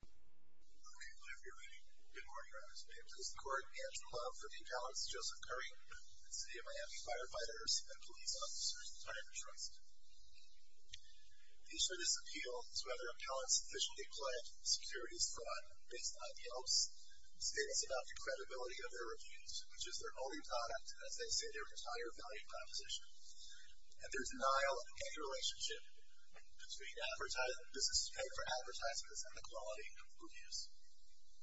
Okay, I believe you're ready. Good morning, Reverend Smith. This is the Court against the Law for the Appellants Joseph Curry, and City of Miami Firefighters and Police Officers, the Tireman Trust. The issue of this appeal is whether appellants officially pledge securities fraud based on Yelp's status about the credibility of their reviews, which is their only product, as they say, their entire value proposition, and their denial of any relationship between business advertisements and the quality of reviews.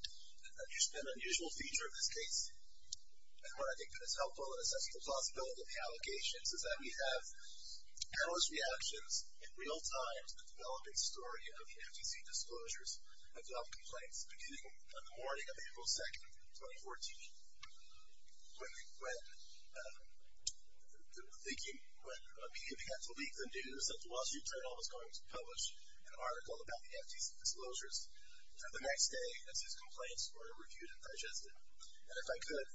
There's been an unusual feature of this case, and where I think that it's helpful in assessing the plausibility of the allegations is that we have erroneous reactions in real time to the developing story of the FTC disclosures of Yelp complaints, beginning on the morning of April 2, 2014, when thinking when a media began to leak the news that the Wall Street Journal was going to publish an article about the FTC disclosures. The next day, as his complaints were reviewed and digested, and if I could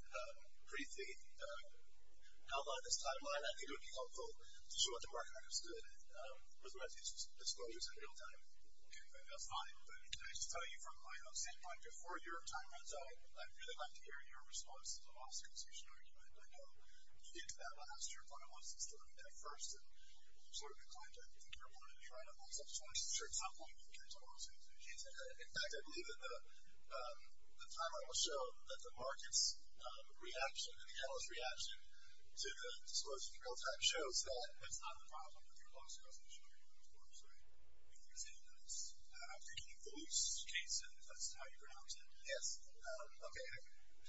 briefly outline this timeline, I think it would be helpful to show what the market understood with the FTC disclosures in real time. Okay, that's fine. But I should tell you from my own standpoint, before your time runs out, I'd really like to hear your response to the lost consumption argument. I know you get to that last year, but I want us to look at it first. I'm sort of inclined to think you're willing to try to close up stories at a certain time point. In fact, I believe that the timeline will show that the market's reaction and the analyst's reaction to the disclosures in real time shows that that's not a problem with your lost consumption argument, of course. I'm thinking of the loose case, if that's how you pronounce it. Yes. Okay.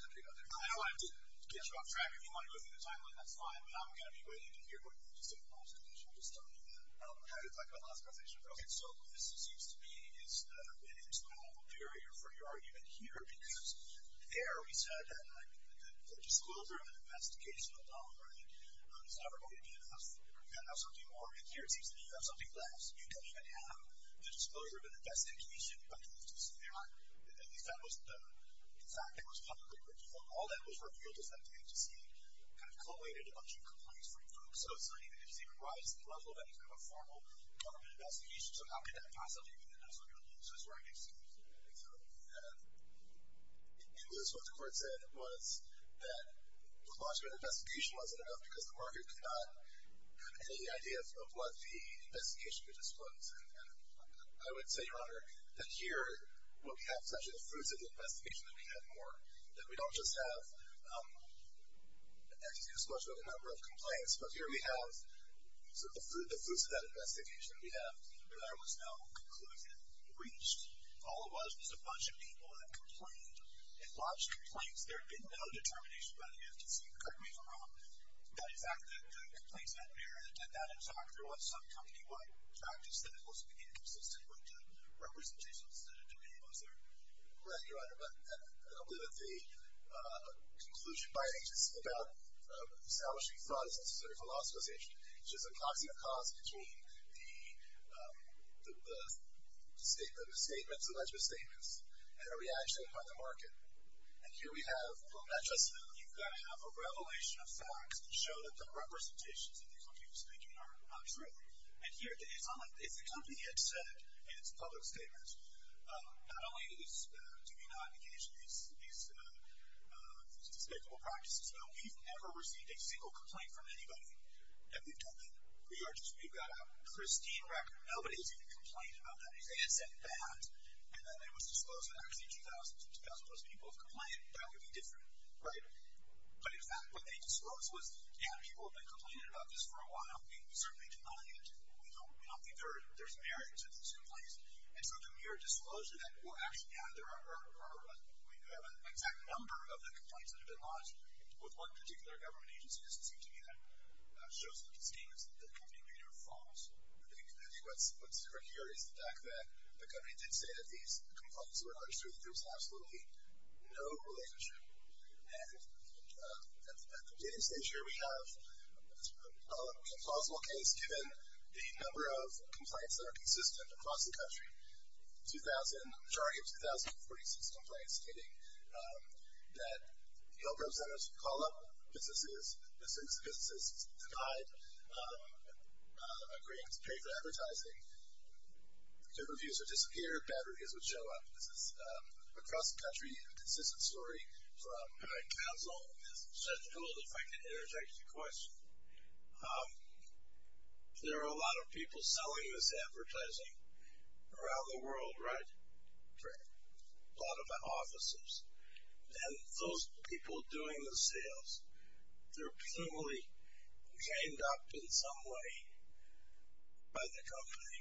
I know I didn't get you off track. If you want to go through the timeline, that's fine. I'm going to be waiting to hear what you have to say about lost consumption. I'll just tell you that. I'm going to talk about lost consumption. Okay. So, what this seems to be is an insurmountable barrier for your argument here because there we said that the disclosure of an investigational document is never going to be enough. You're going to have something more. And here it seems that you have something less. You don't even have the disclosure of an investigation by the FTC. At least that was the fact that was publicly revealed. All that was revealed is that the FTC kind of collated a bunch of complaints from folks. So, it's not even the FTC provides the level of any kind of formal government investigation. So, how could that possibly be the case? So, that's where I get confused a little bit. And, Lewis, what the court said was that the launch of an investigation wasn't enough because the market could not have any idea of what the investigation would disclose. And I would say, Your Honor, that here what we have is actually the fruits of the investigation that we have more, that we don't just have, excuse me, the disclosure of a number of complaints. But here we have sort of the fruits of that investigation we have, but there was no conclusion reached. All it was was a bunch of people that complained and lodged complaints. There had been no determination by the FTC, correct me if I'm wrong, that in fact the complaints had merit and that in fact there was some company-wide practice that it was inconsistent with the representations that it demanded, was there? Well, Your Honor, I believe that the conclusion by agency about establishing fraud is a sort of philosophization. It's just a coxie of cause between the statements, the alleged misstatements and a reaction by the market. And here we have, well, not just that, you've got to have a revelation of facts that show that the representations that the company was making are not true. And here, it's not like, if the company had said in its public statements, not only do we not engage in these despicable practices, but we've never received a single complaint from anybody that we've done that. We are just, we've got a pristine record. Nobody's even complained about that. If they had said that and then it was disclosed that actually 2,000 plus people have complained, that would be different, right? But in fact what they disclosed was, yeah, people have been complaining about this for a while. The company certainly did not engage. We don't think there's merit to these complaints. And so the mere disclosure that, well, actually, yeah, there are, we do have an exact number of the complaints that have been lodged with one particular government agency doesn't seem to me that shows that the statements that the company made are false. I think what's tricky here is the fact that the company did say that these complaints were not true, that there was absolutely no relationship. And at the beginning stage here, we have a plausible case given the number of complaints that are consistent across the country. 2,000, a majority of 2,046 complaints stating that the oil firms that have called up businesses, businesses denied, agreed to pay for advertising. Good reviews would disappear, bad reviews would show up. This is across the country. This is a story from my counsel. This is just a little if I can interject a question. There are a lot of people selling this advertising around the world, right? Right. A lot of offices. And those people doing the sales, they're presumably trained up in some way by the company.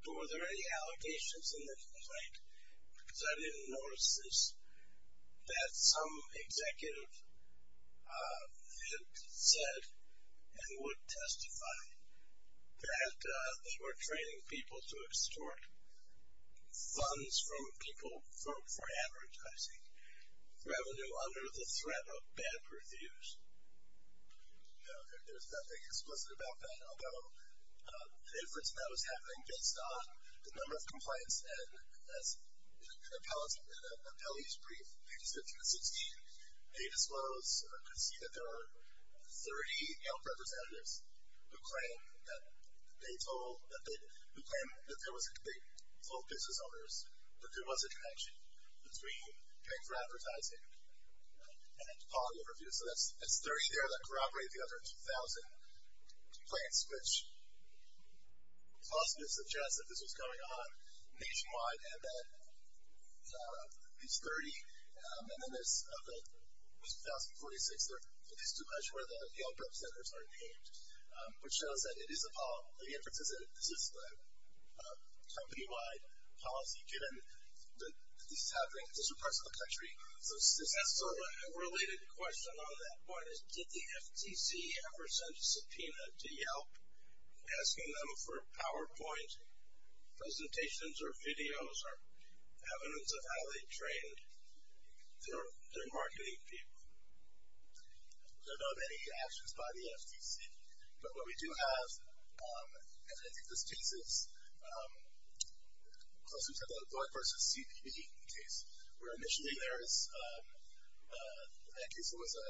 But were there any allegations in the complaint? Because I didn't notice this, that some executive had said and would testify that they were training people to extort funds from people for advertising revenue under the threat of bad reviews. No, there's nothing explicit about that. Although, the inference that was happening based on the number of complaints and as an appellee's brief, pages 15 and 16, they disclosed or could see that there were 30 representatives who claim that they told business owners that there was a connection between paying for advertising and the quality of reviews. So that's 30 there that corroborated the other 2,000 complaints, which is possible to suggest that this was going on nationwide and that it's 30. And then there's of the 2,046, there is too much where the Yale representatives are named, which shows that it is a problem. The inference is that this is a company-wide policy given that this is happening. These are parts of the country. So a related question on that point is, did the FTC ever send a subpoena to Yelp asking them for PowerPoint presentations or videos or evidence of how they trained their marketing people? There are not any actions by the FTC. But what we do have, and I think this case is, as we said, the Lloyd v. CBB case, where initially there is, in that case it was a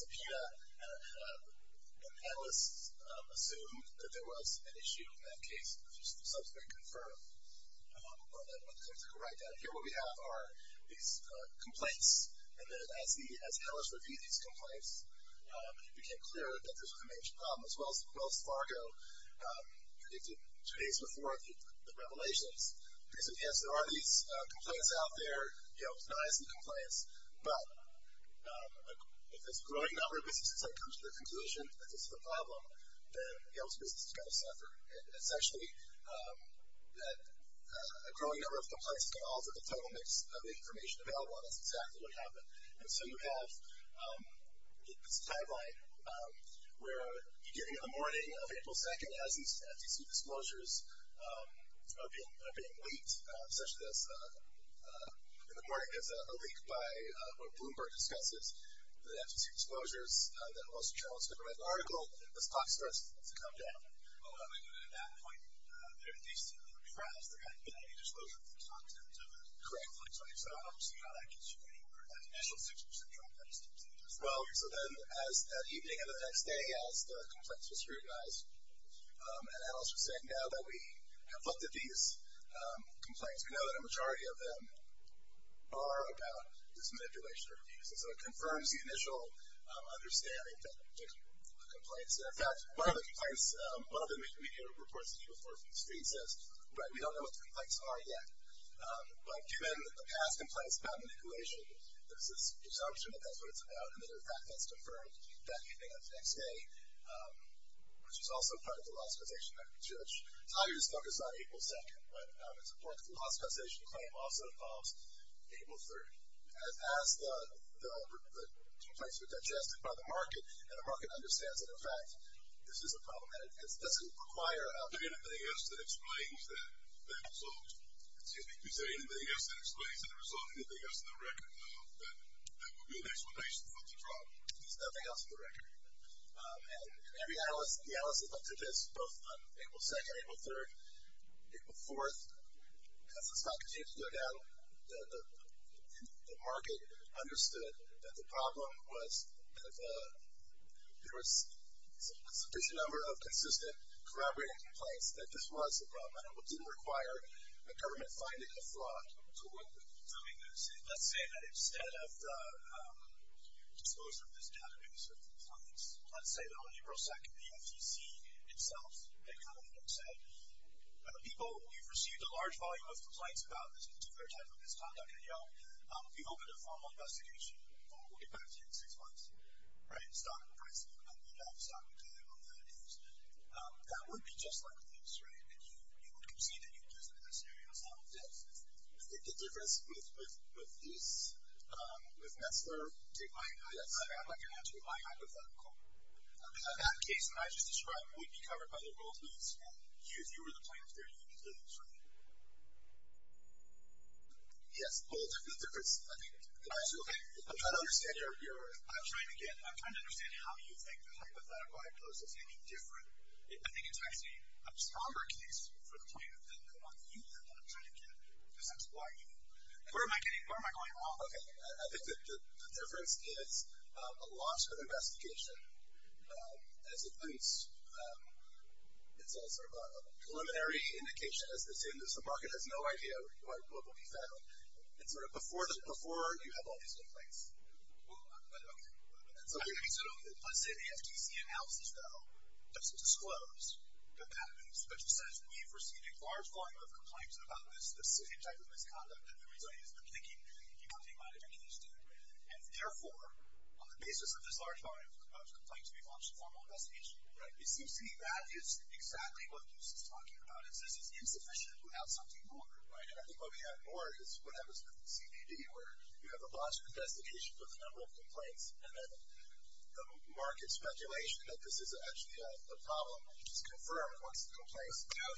subpoena, and analysts assumed that there was an issue in that case, which was subsequently confirmed. And I want to take a quick ride down here. What we have are these complaints, and then as analysts reviewed these complaints, it became clear that this was a major problem, as well as Fargo predicted two days before the revelations. So, yes, there are these complaints out there, Yelp denies the complaints, but if this growing number of businesses come to the conclusion that this is a problem, then Yelp's business is going to suffer. It's actually that a growing number of complaints can alter the total mix of information available, and that's exactly what happened. And so you have this timeline where beginning of the morning of April 2nd, as these FTC disclosures are being leaked, such as in the morning there's a leak by what Bloomberg discusses, the FTC disclosures that most journalists have read the article, this clock starts to come down. Well, how do we do it at that point? There are these two graphs, they're going to give you a disclosure of the contents of it. Correct. So how does that get you anywhere? That initial 6% drop, that just keeps increasing? Well, so then as that evening of the next day, as the complaints were scrutinized, an analyst was saying now that we have looked at these complaints, we know that a majority of them are about this manipulation or abuse. And so it confirms the initial understanding that the complaints, and in fact, one of the complaints, one of the media reports that came forth from the street says, right, we don't know what the complaints are yet. But given the past complaints about manipulation, there's this presumption that that's what it's about, and then in fact that's confirmed that evening of the next day, which is also part of the law specialization. So I'll just focus on April 2nd, but it's important that the law specialization claim also involves April 3rd. As the complaints were digested by the market, and the market understands that, in fact, this is a problem, and it doesn't require anything else that explains that result. Excuse me. You said anything else that explains the result, anything else in the record that would be an explanation for the problem. There's nothing else in the record. And the analysts looked at this both on April 2nd, April 3rd, April 4th. As the stock continued to go down, the market understood that the problem was that if there was a sufficient number of consistent corroborated complaints, that this was a problem, and it didn't require a government finding a fraud to do this. Let's say that instead of the disclosure of this database of complaints, let's say that on April 2nd, the FCC itself had come in and said, people, we've received a large volume of complaints about this particular type of misconduct, and, you know, we've opened a formal investigation. We'll get back to you in six months. Right? Stock prices have gone up. We've got the stock going up. That would be just like a lease, right? And you would concede that you would use it in that scenario. It's not a lease. The difference with this, with Messler, I'm not going to have to remind you of that at all. That case that I just described would be covered by the rule of lease, and if you were the plaintiff there, you would be doing this, right? Yes. Well, the difference, I think, I'm trying to understand your, I'm trying to get, I'm trying to understand how you think the hypothetical I proposed is any different. I think it's actually a stronger case for the plaintiff than the one that you have, and I'm trying to get, because that's why you, where am I getting, where am I going wrong? Okay. I think the difference is a launch of an investigation as it leans, it's sort of a preliminary indication as they say in this, the market has no idea what will be found. It's sort of before you have all these complaints. Okay. Let's say the FTC analysis, though, doesn't disclose that that has been used, but just says we've received a large volume of complaints about this specific type of misconduct that the resident has been thinking that the company might have been interested in, and therefore, on the basis of this large volume of complaints, we've launched a formal investigation. Right. It seems to me that is exactly what Goose is talking about. It says it's insufficient without something longer, right? And I think what we have more is what happens with CBD, where you have a launch of an investigation with a number of complaints, and then the market's speculation that this is actually a problem, which is confirmed once the complaint is found.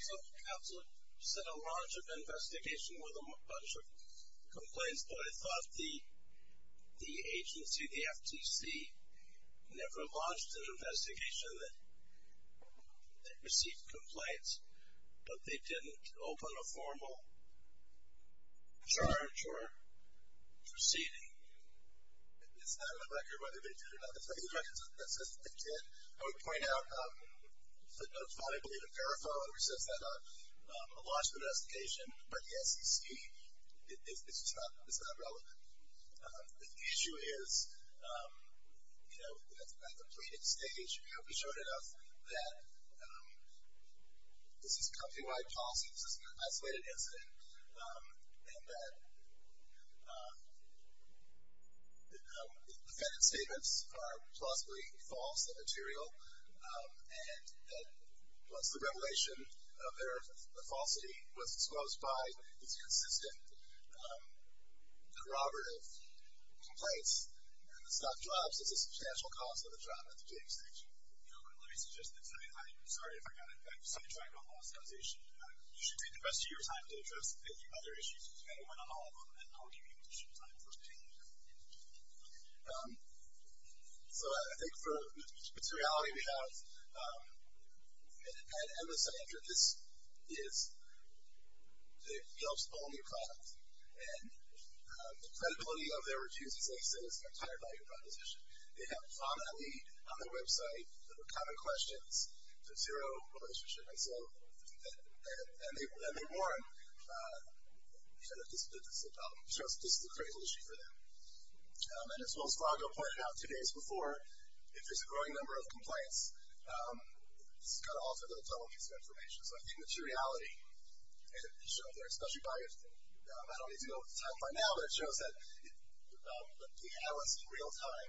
Absolutely. You said a launch of an investigation with a bunch of complaints, but I thought the agency, the FTC, never launched an investigation that received complaints, but they didn't open a formal charge for CBD. It's not on the record whether they did or not. It's not in the records. That says that they did. I would point out the notes follow, I believe, a paraphernalia which says that a launch of an investigation by the SEC is not relevant. The issue is, you know, at the pleading stage, that this is company-wide policy, this is an isolated incident, and that the defendant's statements are plausibly false and material, and that once the revelation of their falsity was disclosed by these consistent corroborative complaints, then the stock drops. It's a substantial cost of the job at the pleading stage. Let me suggest this. I'm sorry if I got it. I'm sorry to talk about lost causation. You should take the rest of your time to address any other issues, and I'll give you additional time for me. So I think for the materiality we have, at MSA, the nature of this is it helps own your clients, and the credibility of their reviews, as I said, is entirely your proposition. They have on that lead, on their website, the common questions, the zero relationship, and so they warrant that this is a problem. This is a crazy issue for them. And as Will Svago pointed out two days before, if there's a growing number of complaints, it's going to alter the total piece of information. So I think materiality, especially by, I don't need to know what to talk about now, but it shows that the analysts in real time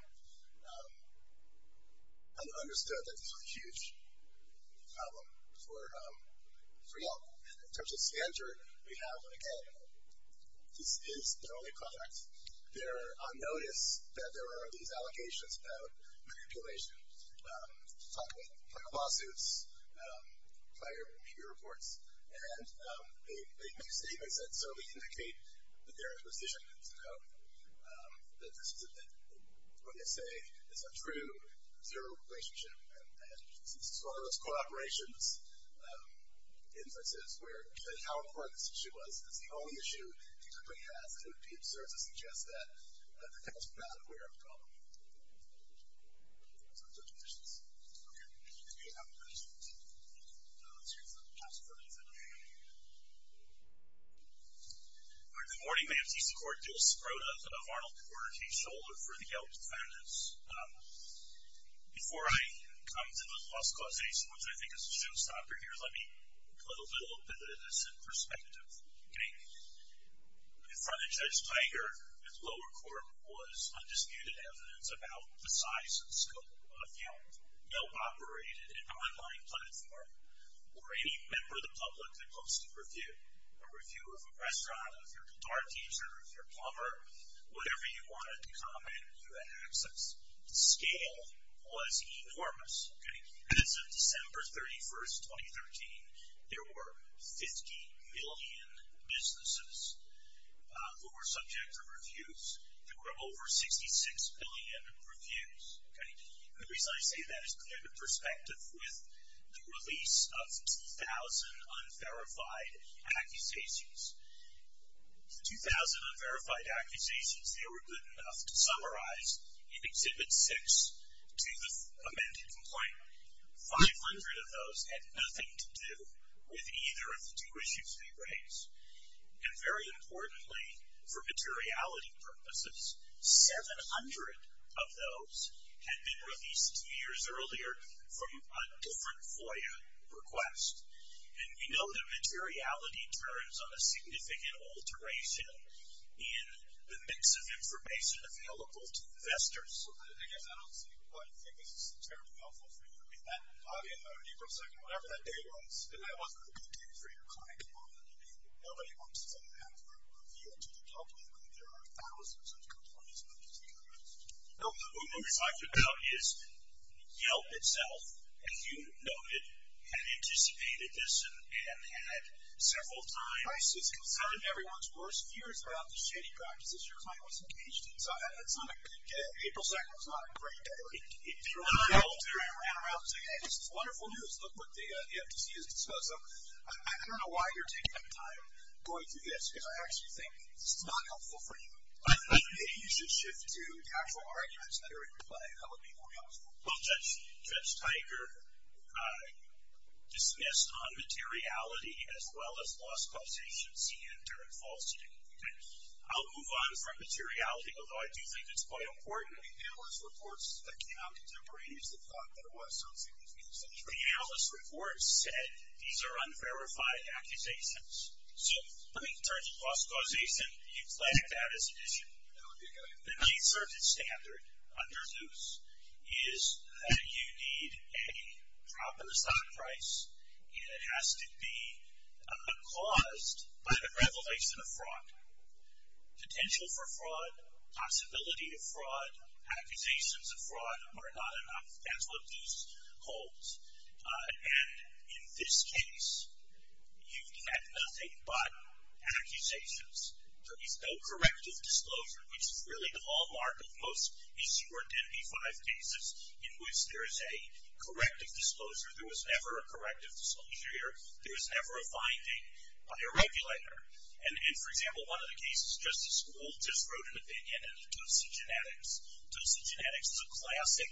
understood that this was a huge problem for them. In terms of standard, we have, again, this is the only product. They're on notice that there are these allocations about manipulation, talking about lawsuits, prior media reports, and they make statements that certainly indicate that there is a position to note that this is, what they say, is a true zero relationship, and this is one of those co-operations instances where how important this issue was because it's the only issue the company has, and it would be absurd to suggest that the company is not aware of the problem. So those are my questions. Okay. If you have any questions, let's hear some last words. All right. Good morning. My name is E.C. Cordes. I wrote up Arnold Porter K. Scholler for the Yeltsin Foundation. Before I come to the Las Clases, which I think is a showstopper here, let me put a little bit of this in perspective. Okay. In front of Judge Tiger, his lower court was undisputed evidence about the size and scope of Yelp. Yelp operated an online platform where any member of the public could post a review, a review of a restaurant, of your guitar teacher, of your plumber, whatever you wanted to comment, you had access. The scale was enormous. Okay. As of December 31, 2013, there were 50 million businesses who were subject to reviews. There were over 66 billion reviews. Okay. And the reason I say that is to put it in perspective with the release of 2,000 unverified accusations. The 2,000 unverified accusations, they were good enough to summarize in Exhibit 6 to the amended complaint. 500 of those had nothing to do with either of the two issues they raised. And very importantly, for materiality purposes, 700 of those had been released two years earlier from a different FOIA request. And we know that materiality turns on a significant alteration in the mix of information available to investors. I guess I don't see why you think this is terribly helpful for you. I mean, that audio note, April 2nd, whatever that day was, if that wasn't a good day for your client component, nobody wants to have a review to the public when there are thousands of complaints with the same request. No, what we're talking about is Yelp itself, as you noted, had anticipated this and had several times. Price is concerned. Everyone's worst fears about the shady practices your client was engaged in. So it's not a good day. April 2nd was not a great day. He threw a Yelp there and ran around saying, hey, this is wonderful news. Look what the FTC has disclosed. So I don't know why you're taking up time going through this, because I actually think this is not helpful for you. I think that you should shift to the actual arguments that are in play. That would be more helpful. Well, Judge Teicher dismissed non-materiality as well as lost causation, CN, and falsehood. I'll move on from materiality, although I do think it's quite important. The analyst reports that came out contemporaneously thought that it was something between the centuries. The analyst report said these are unverified accusations. So let me turn to lost causation. Do you flag that as an issue? The main service standard under Zeus is that you need a proper stock price, and it has to be caused by the revelation of fraud. Potential for fraud, possibility of fraud, accusations of fraud are not enough. That's what Zeus holds. And in this case, you've had nothing but accusations. There is no corrective disclosure, which is really the hallmark of most issue or D&B-5 cases, in which there is a corrective disclosure. There was never a corrective disclosure here. There was never a finding by a regulator. And, for example, one of the cases, Justice Gould just wrote an opinion in the Dose of Genetics. Dose of Genetics is a classic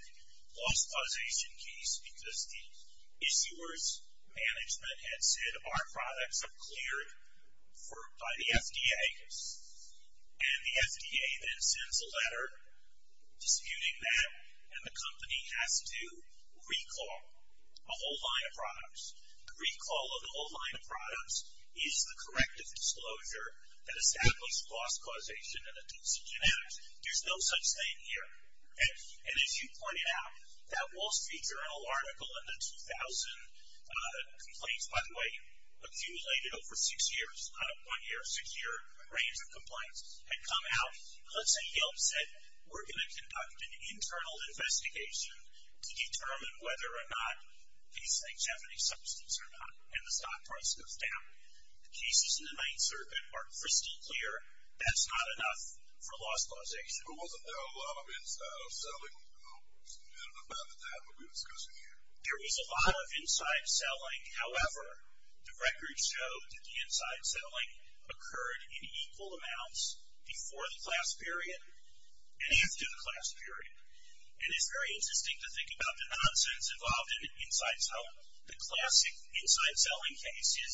lost causation case, because the issuer's management had said, our products are cleared by the FDA. And the FDA then sends a letter disputing that, and the company has to recall a whole line of products. The recall of the whole line of products is the corrective disclosure that established lost causation in the Dose of Genetics. There's no such thing here. And as you pointed out, that Wall Street Journal article in the 2000 complaints, which, by the way, accumulated over six years, one-year, six-year range of complaints, had come out. Let's say Yeltsin said, we're going to conduct an internal investigation to determine whether or not these things have any substance or not, and the stock price goes down. The cases in the Ninth Circuit are crystal clear. That's not enough for lost causation. There wasn't a lot of inside selling, and about that we'll be discussing here. There was a lot of inside selling. However, the records show that the inside selling occurred in equal amounts before the class period and after the class period. And it's very interesting to think about the nonsense involved in inside selling. The classic inside selling case is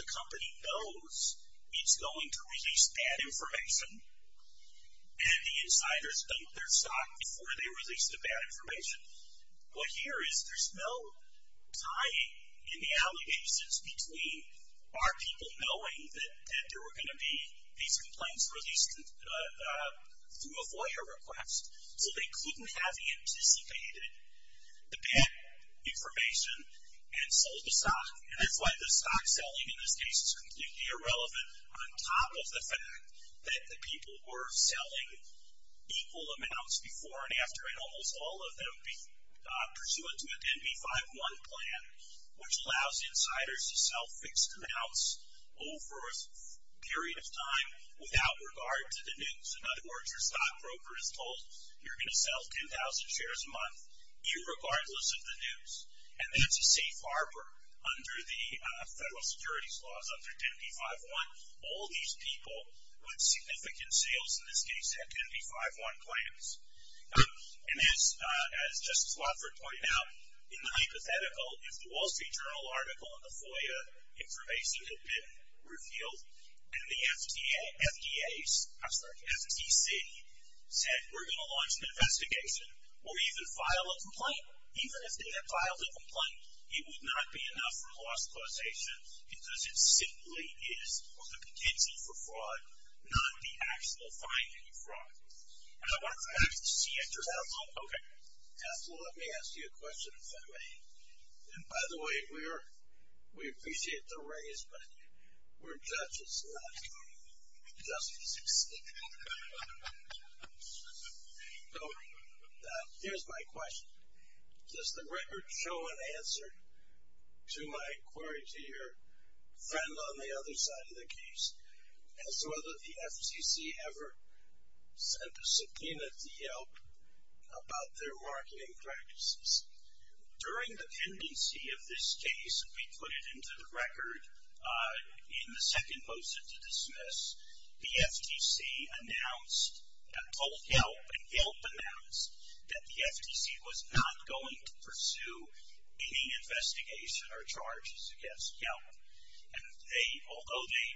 the company knows it's going to release bad information, and the insiders dump their stock before they release the bad information. What here is, there's no tying in the allegations between our people knowing that there were going to be these complaints released through a FOIA request, so they couldn't have anticipated the bad information and sold the stock. And that's why the stock selling in this case is completely irrelevant, on top of the fact that the people were selling equal amounts before and after, and almost all of them pursuant to a 10b-5-1 plan, which allows insiders to sell fixed amounts over a period of time without regard to the news. In other words, your stock broker is told you're going to sell 10,000 shares a month, irregardless of the news. And that's a safe harbor under the federal securities laws, under 10b-5-1. All these people with significant sales in this case have 10b-5-1 plans. And as Justice Wofford pointed out, in the hypothetical, if the Wall Street Journal article and the FOIA information had been revealed, and the FTAs, I'm sorry, FTC, said we're going to launch an investigation, or even file a complaint, even if they had filed a complaint, it would not be enough for loss causation, because it simply is on the contingency for fraud, not the actual finding of fraud. And I wonder if I have to see it or not. Okay. Ethel, let me ask you a question, if that's okay. And by the way, we appreciate the raise, but we're judges, not justices. So here's my question. Does the record show an answer to my query to your friend on the other side of the case? As to whether the FTC ever sent a subpoena to Yelp about their marketing practices. During the pendency of this case, we put it into the record in the second motion to dismiss. The FTC announced and told Yelp, and Yelp announced, that the FTC was not going to pursue any investigation or charges against Yelp. And although they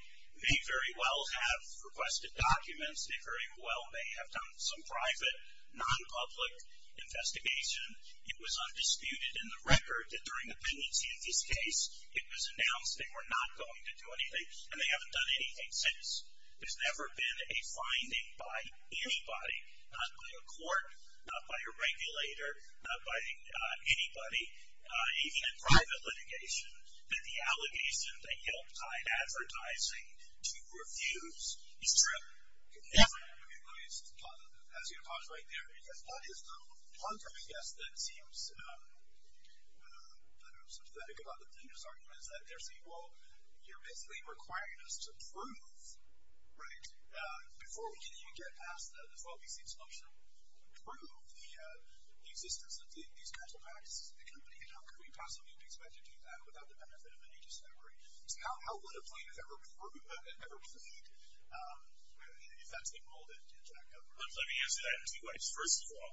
may very well have requested documents, they very well may have done some private, non-public investigation, it was undisputed in the record that during the pendency of this case, it was announced they were not going to do anything, and they haven't done anything since. There's never been a finding by anybody, not by a court, not by a regulator, not by anybody, even in private litigation, that the allegation that Yelp died advertising to refuse is true. Yeah. Let me pause right there, because that is the contrary guess that seems, I don't know, sympathetic about the plaintiff's argument, is that they're saying, well, you're basically requiring us to prove, right, before we can even get past that, as well, we see it's functional, prove the existence of these kinds of practices in the company, and how could we possibly be expected to do that without the benefit of any discovery? So how would a plaintiff ever prove, ever plead, if that's the world in which I cover? Let me answer that in two ways. First of all,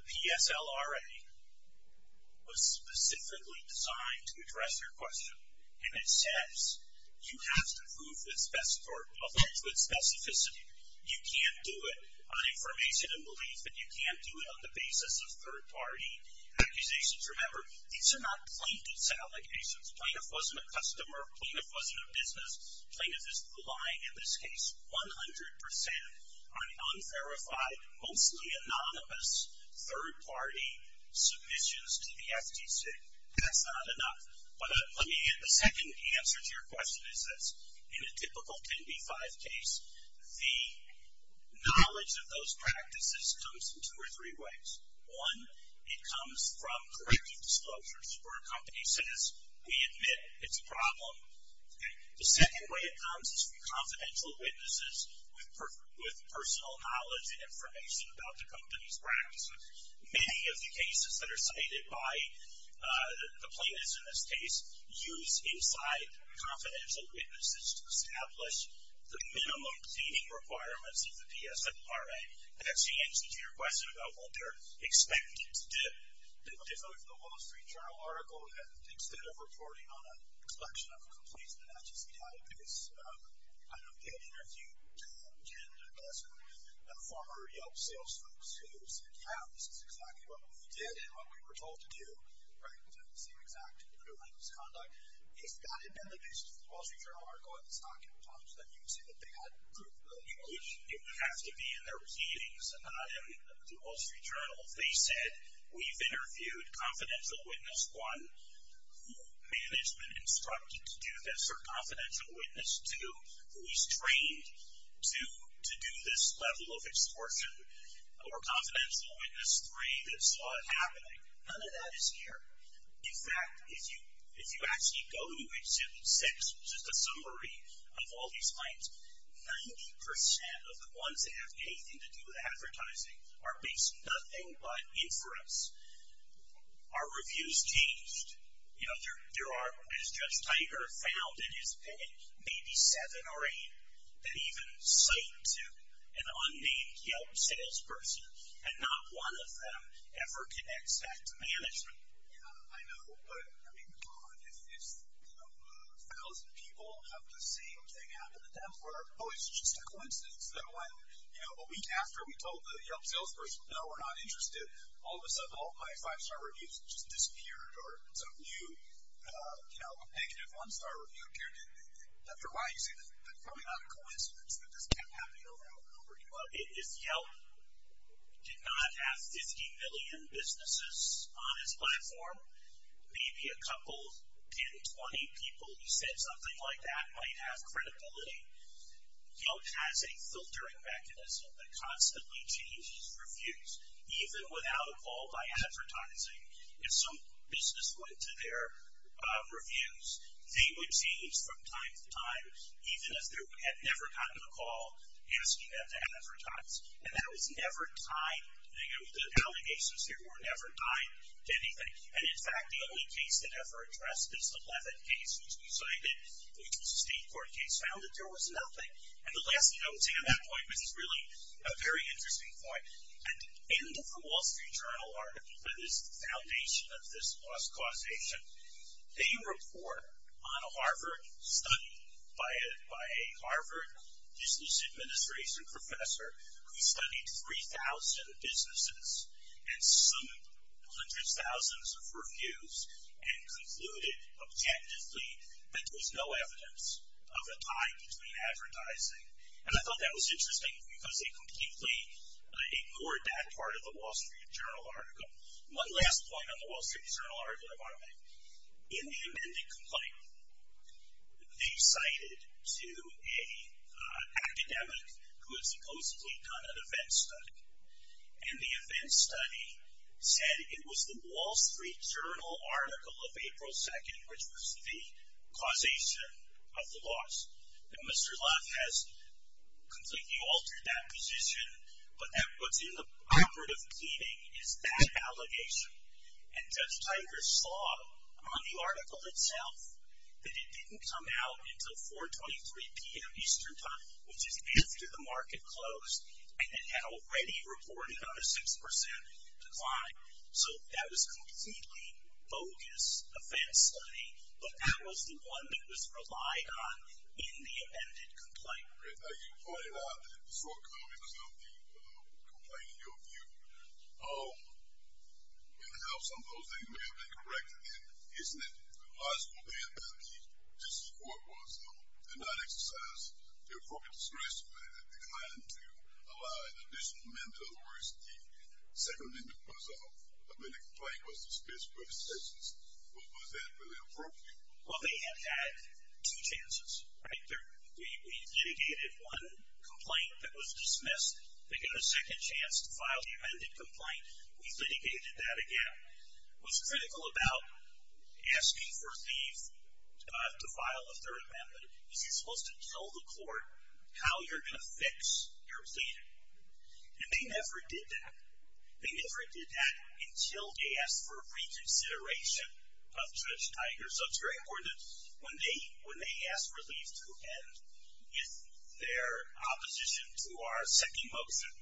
the PSLRA was specifically designed to address your question, and it says you have to prove with specificity. You can't do it on information and belief, but you can't do it on the basis of third-party accusations. Remember, these are not plaintiff's allegations. Plaintiff wasn't a customer, plaintiff wasn't a business, plaintiff is relying, in this case, 100% on unverified, mostly anonymous, third-party submissions to the FTC. That's not enough. The second answer to your question is this. In a typical 10b-5 case, the knowledge of those practices comes in two or three ways. One, it comes from corrective disclosures, where a company says, we admit it's a problem. The second way it comes is from confidential witnesses with personal knowledge and information about the company's practices. Many of the cases that are cited by the plaintiffs in this case use inside confidential witnesses to establish the minimum seating requirements of the PSNRA. And that's the answer to your question about what they're expecting to do. If the Wall Street Journal article, instead of reporting on a collection of complaints that actually seem out of place, I don't think I've interviewed 10 or less former Yelp sales folks who said, yeah, this is exactly what we did and what we were told to do, right, with the same exact conduct. If that had been the case, the Wall Street Journal article, it's not going to talk to them. You can see that they had proof of that. It would have to be in their readings. The Wall Street Journal, if they said, we've interviewed Confidential Witness 1, who management instructed to do this, or Confidential Witness 2, who was trained to do this level of extortion, or Confidential Witness 3 that saw it happening, none of that is here. In fact, if you actually go to H6, which is the summary of all these claims, 90% of the ones that have anything to do with advertising are based nothing but inference. Our reviews changed. You know, there are, as Judge Tiger found in his opinion, maybe seven or eight that even cite to an unnamed Yelp salesperson, and not one of them ever connects back to management. Yeah, I know, but, I mean, God, if a thousand people have the same thing happen to them, or, oh, it's just a coincidence that when, you know, a week after we told the Yelp salesperson, no, we're not interested, all of a sudden all of my five-star reviews just disappeared, or some new, you know, negative one-star review appeared, that they're lying. See, that's probably not a coincidence that this kept happening over and over and over again. If Yelp did not have 50 million businesses on its platform, maybe a couple, 10, 20 people who said something like that might have credibility. Yelp has a filtering mechanism that constantly changes reviews, even without a call by advertising. If some business went to their reviews, they would change from time to time, even if they had never gotten a call asking them to advertise. And that was never tied, you know, the allegations here were never tied to anything. And, in fact, the only case that ever addressed this, the Levin case, which we cited, which was a state court case, found that there was nothing. And the last thing I would say on that point, which is really a very interesting point, at the end of the Wall Street Journal article, that is the foundation of this loss causation, they report on a Harvard study by a Harvard Business Administration professor who studied 3,000 businesses and summed hundreds of thousands of reviews and concluded, objectively, that there's no evidence of a tie between advertising. And I thought that was interesting because they completely ignored that part of the Wall Street Journal article. One last point on the Wall Street Journal article, if I may. In the amended complaint, they cited to an academic who had supposedly done an event study. And the event study said it was the Wall Street Journal article of April 2nd, which was the causation of the loss. And Mr. Leff has completely altered that position, but that puts him in the operative cleaning is that allegation. And Judge Tigers saw on the article itself that it didn't come out until 4.23 p.m. Eastern Time, which is after the market closed, and it had already reported on a 6% decline. So that was a completely bogus event study, but that was the one that was relied on in the amended complaint. Now you pointed out that the shortcomings of the complaint, in your view, and how some of those things may have been corrected. Isn't it logical then that the District Court was not exercising the appropriate discretion when it declined to allow an additional member of the RISD? Secondly, because the amended complaint was dismissed by the Census. Was that really appropriate? Well, they had had two chances, right? We litigated one complaint that was dismissed. They got a second chance to file the amended complaint. We litigated that again. What's critical about asking for Thief to file a third amendment is you're supposed to tell the court how you're gonna fix your plea. And they never did that. They never did that until they asked for reconsideration of Judge Tigers. So it's very important that when they asked for Thief to end their opposition to our second motion,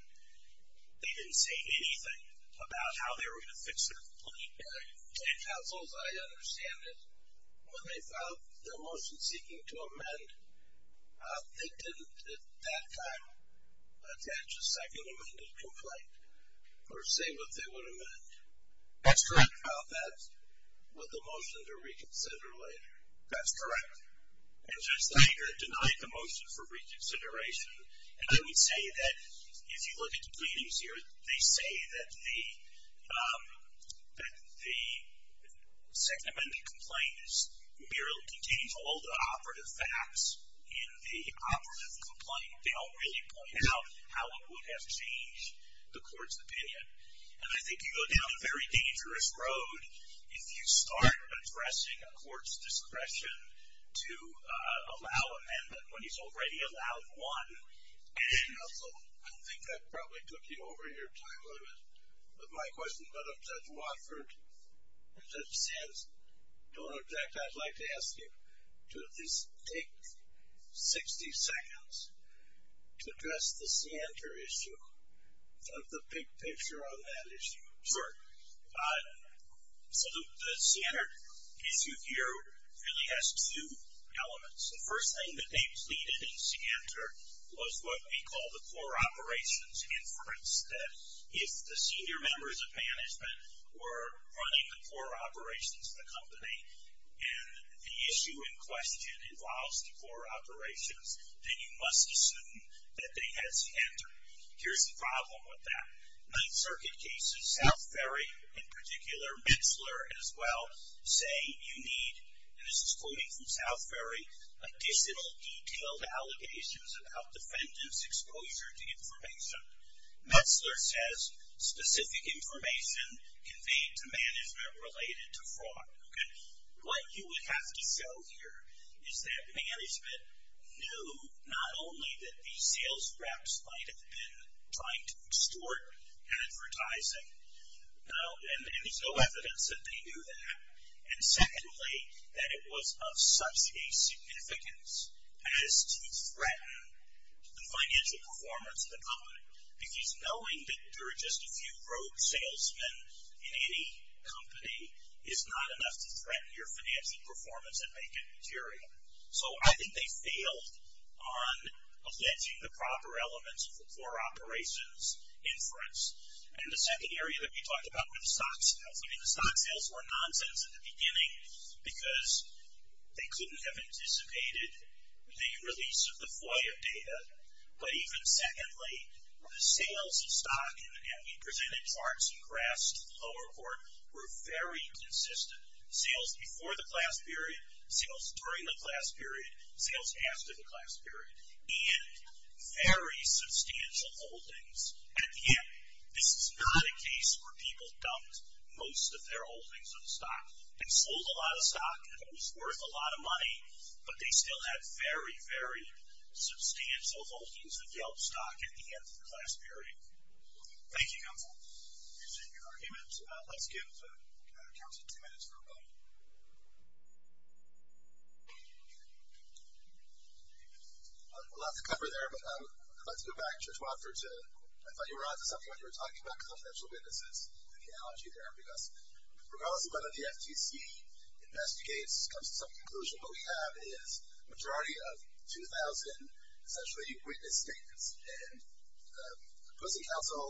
they didn't say anything about how they were gonna fix their plea. And, Counsel, as I understand it, when they filed their motion seeking to amend, they didn't, at that time, attach a second amended complaint or say what they would amend. That's correct. That's what the motion to reconsider later. That's correct. And Judge Tiger denied the motion for reconsideration. And I would say that if you look at the pleadings here, they say that the second amended complaint merely contains all the operative facts in the operative complaint. They don't really point out how it would have changed the court's opinion. And I think you go down a very dangerous road if you start addressing a court's discretion to allow amendment when he's already allowed one. Counsel, I think that probably took you over your time a little bit with my question, but if Judge Watford and Judge Sands don't know exactly, I'd like to ask you to at least take 60 seconds to address the Sander issue, the big picture on that issue. Sure. So the Sander issue here really has two elements. The first thing that they pleaded in Sander was what we call the core operations inference, that if the senior members of management were running the core operations of the company and the issue in question involves the core operations, then you must assume that they had Sander. Here's the problem with that. Ninth Circuit cases, South Ferry in particular, or Metzler as well, say you need, and this is quoting from South Ferry, additional detailed allegations about defendant's exposure to information. Metzler says specific information conveyed to management related to fraud. What you would have to show here is that management knew not only that the sales reps might have been trying to extort advertising, and there's no evidence that they knew that, and secondly, that it was of such a significance as to threaten the financial performance of the company, because knowing that there are just a few rogue salesmen in any company is not enough to threaten your financial performance and make it material. So I think they failed on alleging the proper elements of the core operations inference. And the second area that we talked about were the stock sales. I mean, the stock sales were nonsense in the beginning because they couldn't have anticipated the release of the FOIA data, but even secondly, the sales of stock, and we presented charts and graphs to the lower court, were very consistent. Sales before the class period, sales during the class period, sales after the class period, and very substantial holdings. At the end, this is not a case where people dumped most of their holdings of stock and sold a lot of stock and it was worth a lot of money, but they still had very, very substantial holdings of Yelp stock at the end of the class period. Thank you, counsel. You've seen your argument. Let's give counsel two minutes for a moment. A lot to cover there, but I'd like to go back, Judge Wofford, to, I thought you were onto something when you were talking about confidential witnesses and the analogy there, because regardless of whether the FTC investigates, comes to some conclusion, what we have is a majority of 2,000 essentially witness statements, and the opposing counsel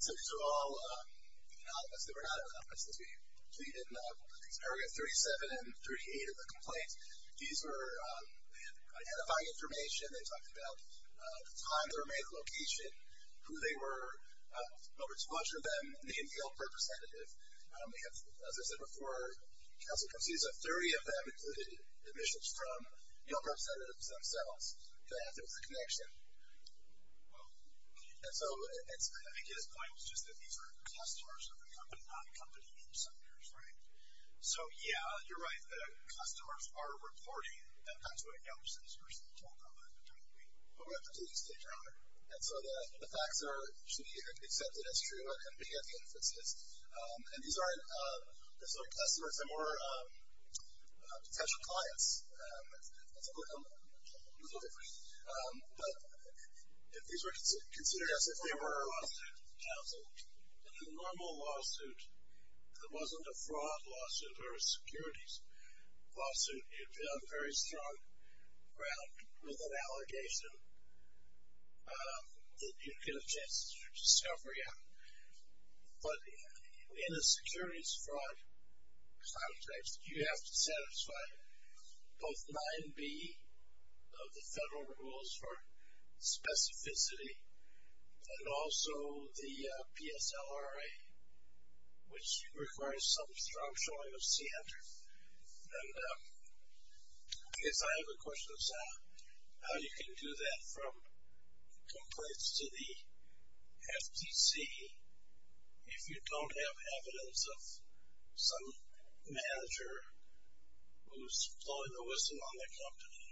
said these are all anonymous. They were not anonymous. As we plead in these areas, 37 and 38 of the complaints, these were identifying information. They talked about the time they were made, the location, who they were, over 200 of them named Yelp representative. As I said before, counsel concedes that 30 of them included admissions from Yelp representatives themselves to act as a connection. And so I think his point was just that these are customers of the company, not company representatives, right? So, yeah, you're right. The customers are reporting. And so the facts should be accepted as true and being at the inferences. And these aren't customers. They're more potential clients. But if these were considered as if they were... In the normal lawsuit, if it wasn't a fraud lawsuit or a securities lawsuit, you'd be on very strong ground with an allegation that you'd get a chance to discovery out. But in a securities fraud context, you have to satisfy both 9B of the federal rules for specificity and also the PSLRA, which requires some strong showing of center. And I guess I have a question of how you can do that from complaints to the FTC if you don't have evidence of some manager who's blowing the whistle on the company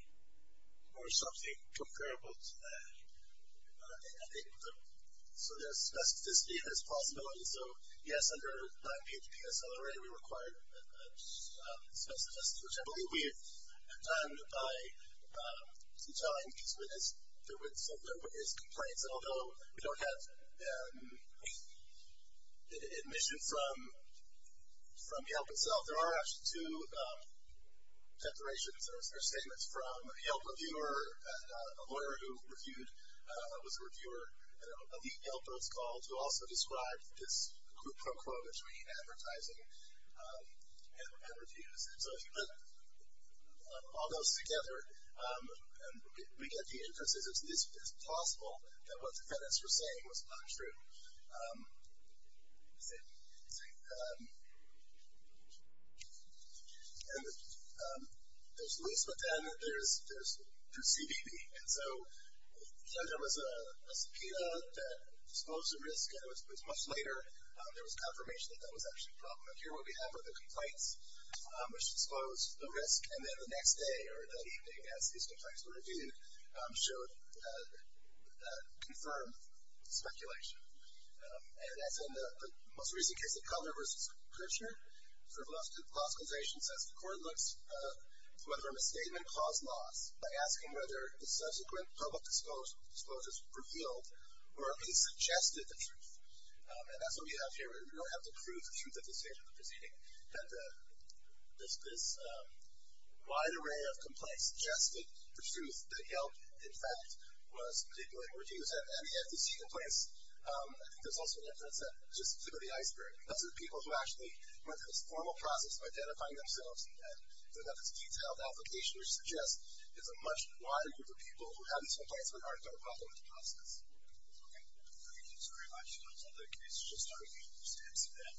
or something comparable to that. So there's specificity, there's possibility. And so, yes, under 9B of the PSLRA, we require specificity, which I believe we have done by telling the witness complaints. And although we don't have admission from Yelp itself, there are actually two declarations or statements from a Yelp reviewer, a lawyer who was a reviewer of the Yelp, who also described this quote-unquote between advertising and reviews. And so if you put all those together, we get the inference that it's possible that what the defendants were saying was not true. And there's loose, but then there's CBB. And so there was a subpoena that disclosed the risk, and it was much later there was confirmation that that was actually a problem. And here what we have are the complaints, which disclose the risk. And then the next day or the evening, as these complaints were reviewed, showed confirmed speculation. And as in the most recent case of Culler v. Kirchner, sort of logicalization says the court looks whether a misstatement caused loss by asking whether the subsequent public disclosures were revealed or if he suggested the truth. And that's what we have here. We don't have the proof of truth at this stage of the proceeding, that this wide array of complaints suggested the truth, that Yelp, in fact, was manipulating reviews and the FTC complaints. I think there's also an inference that just threw the iceberg. Those are people who actually went through this formal process of identifying themselves, and then have this detailed application, which suggests it's a much wider group of people who have these complaints on their heart that are involved in the process. Okay? Thank you very much. And the case is just starting to stand some ground.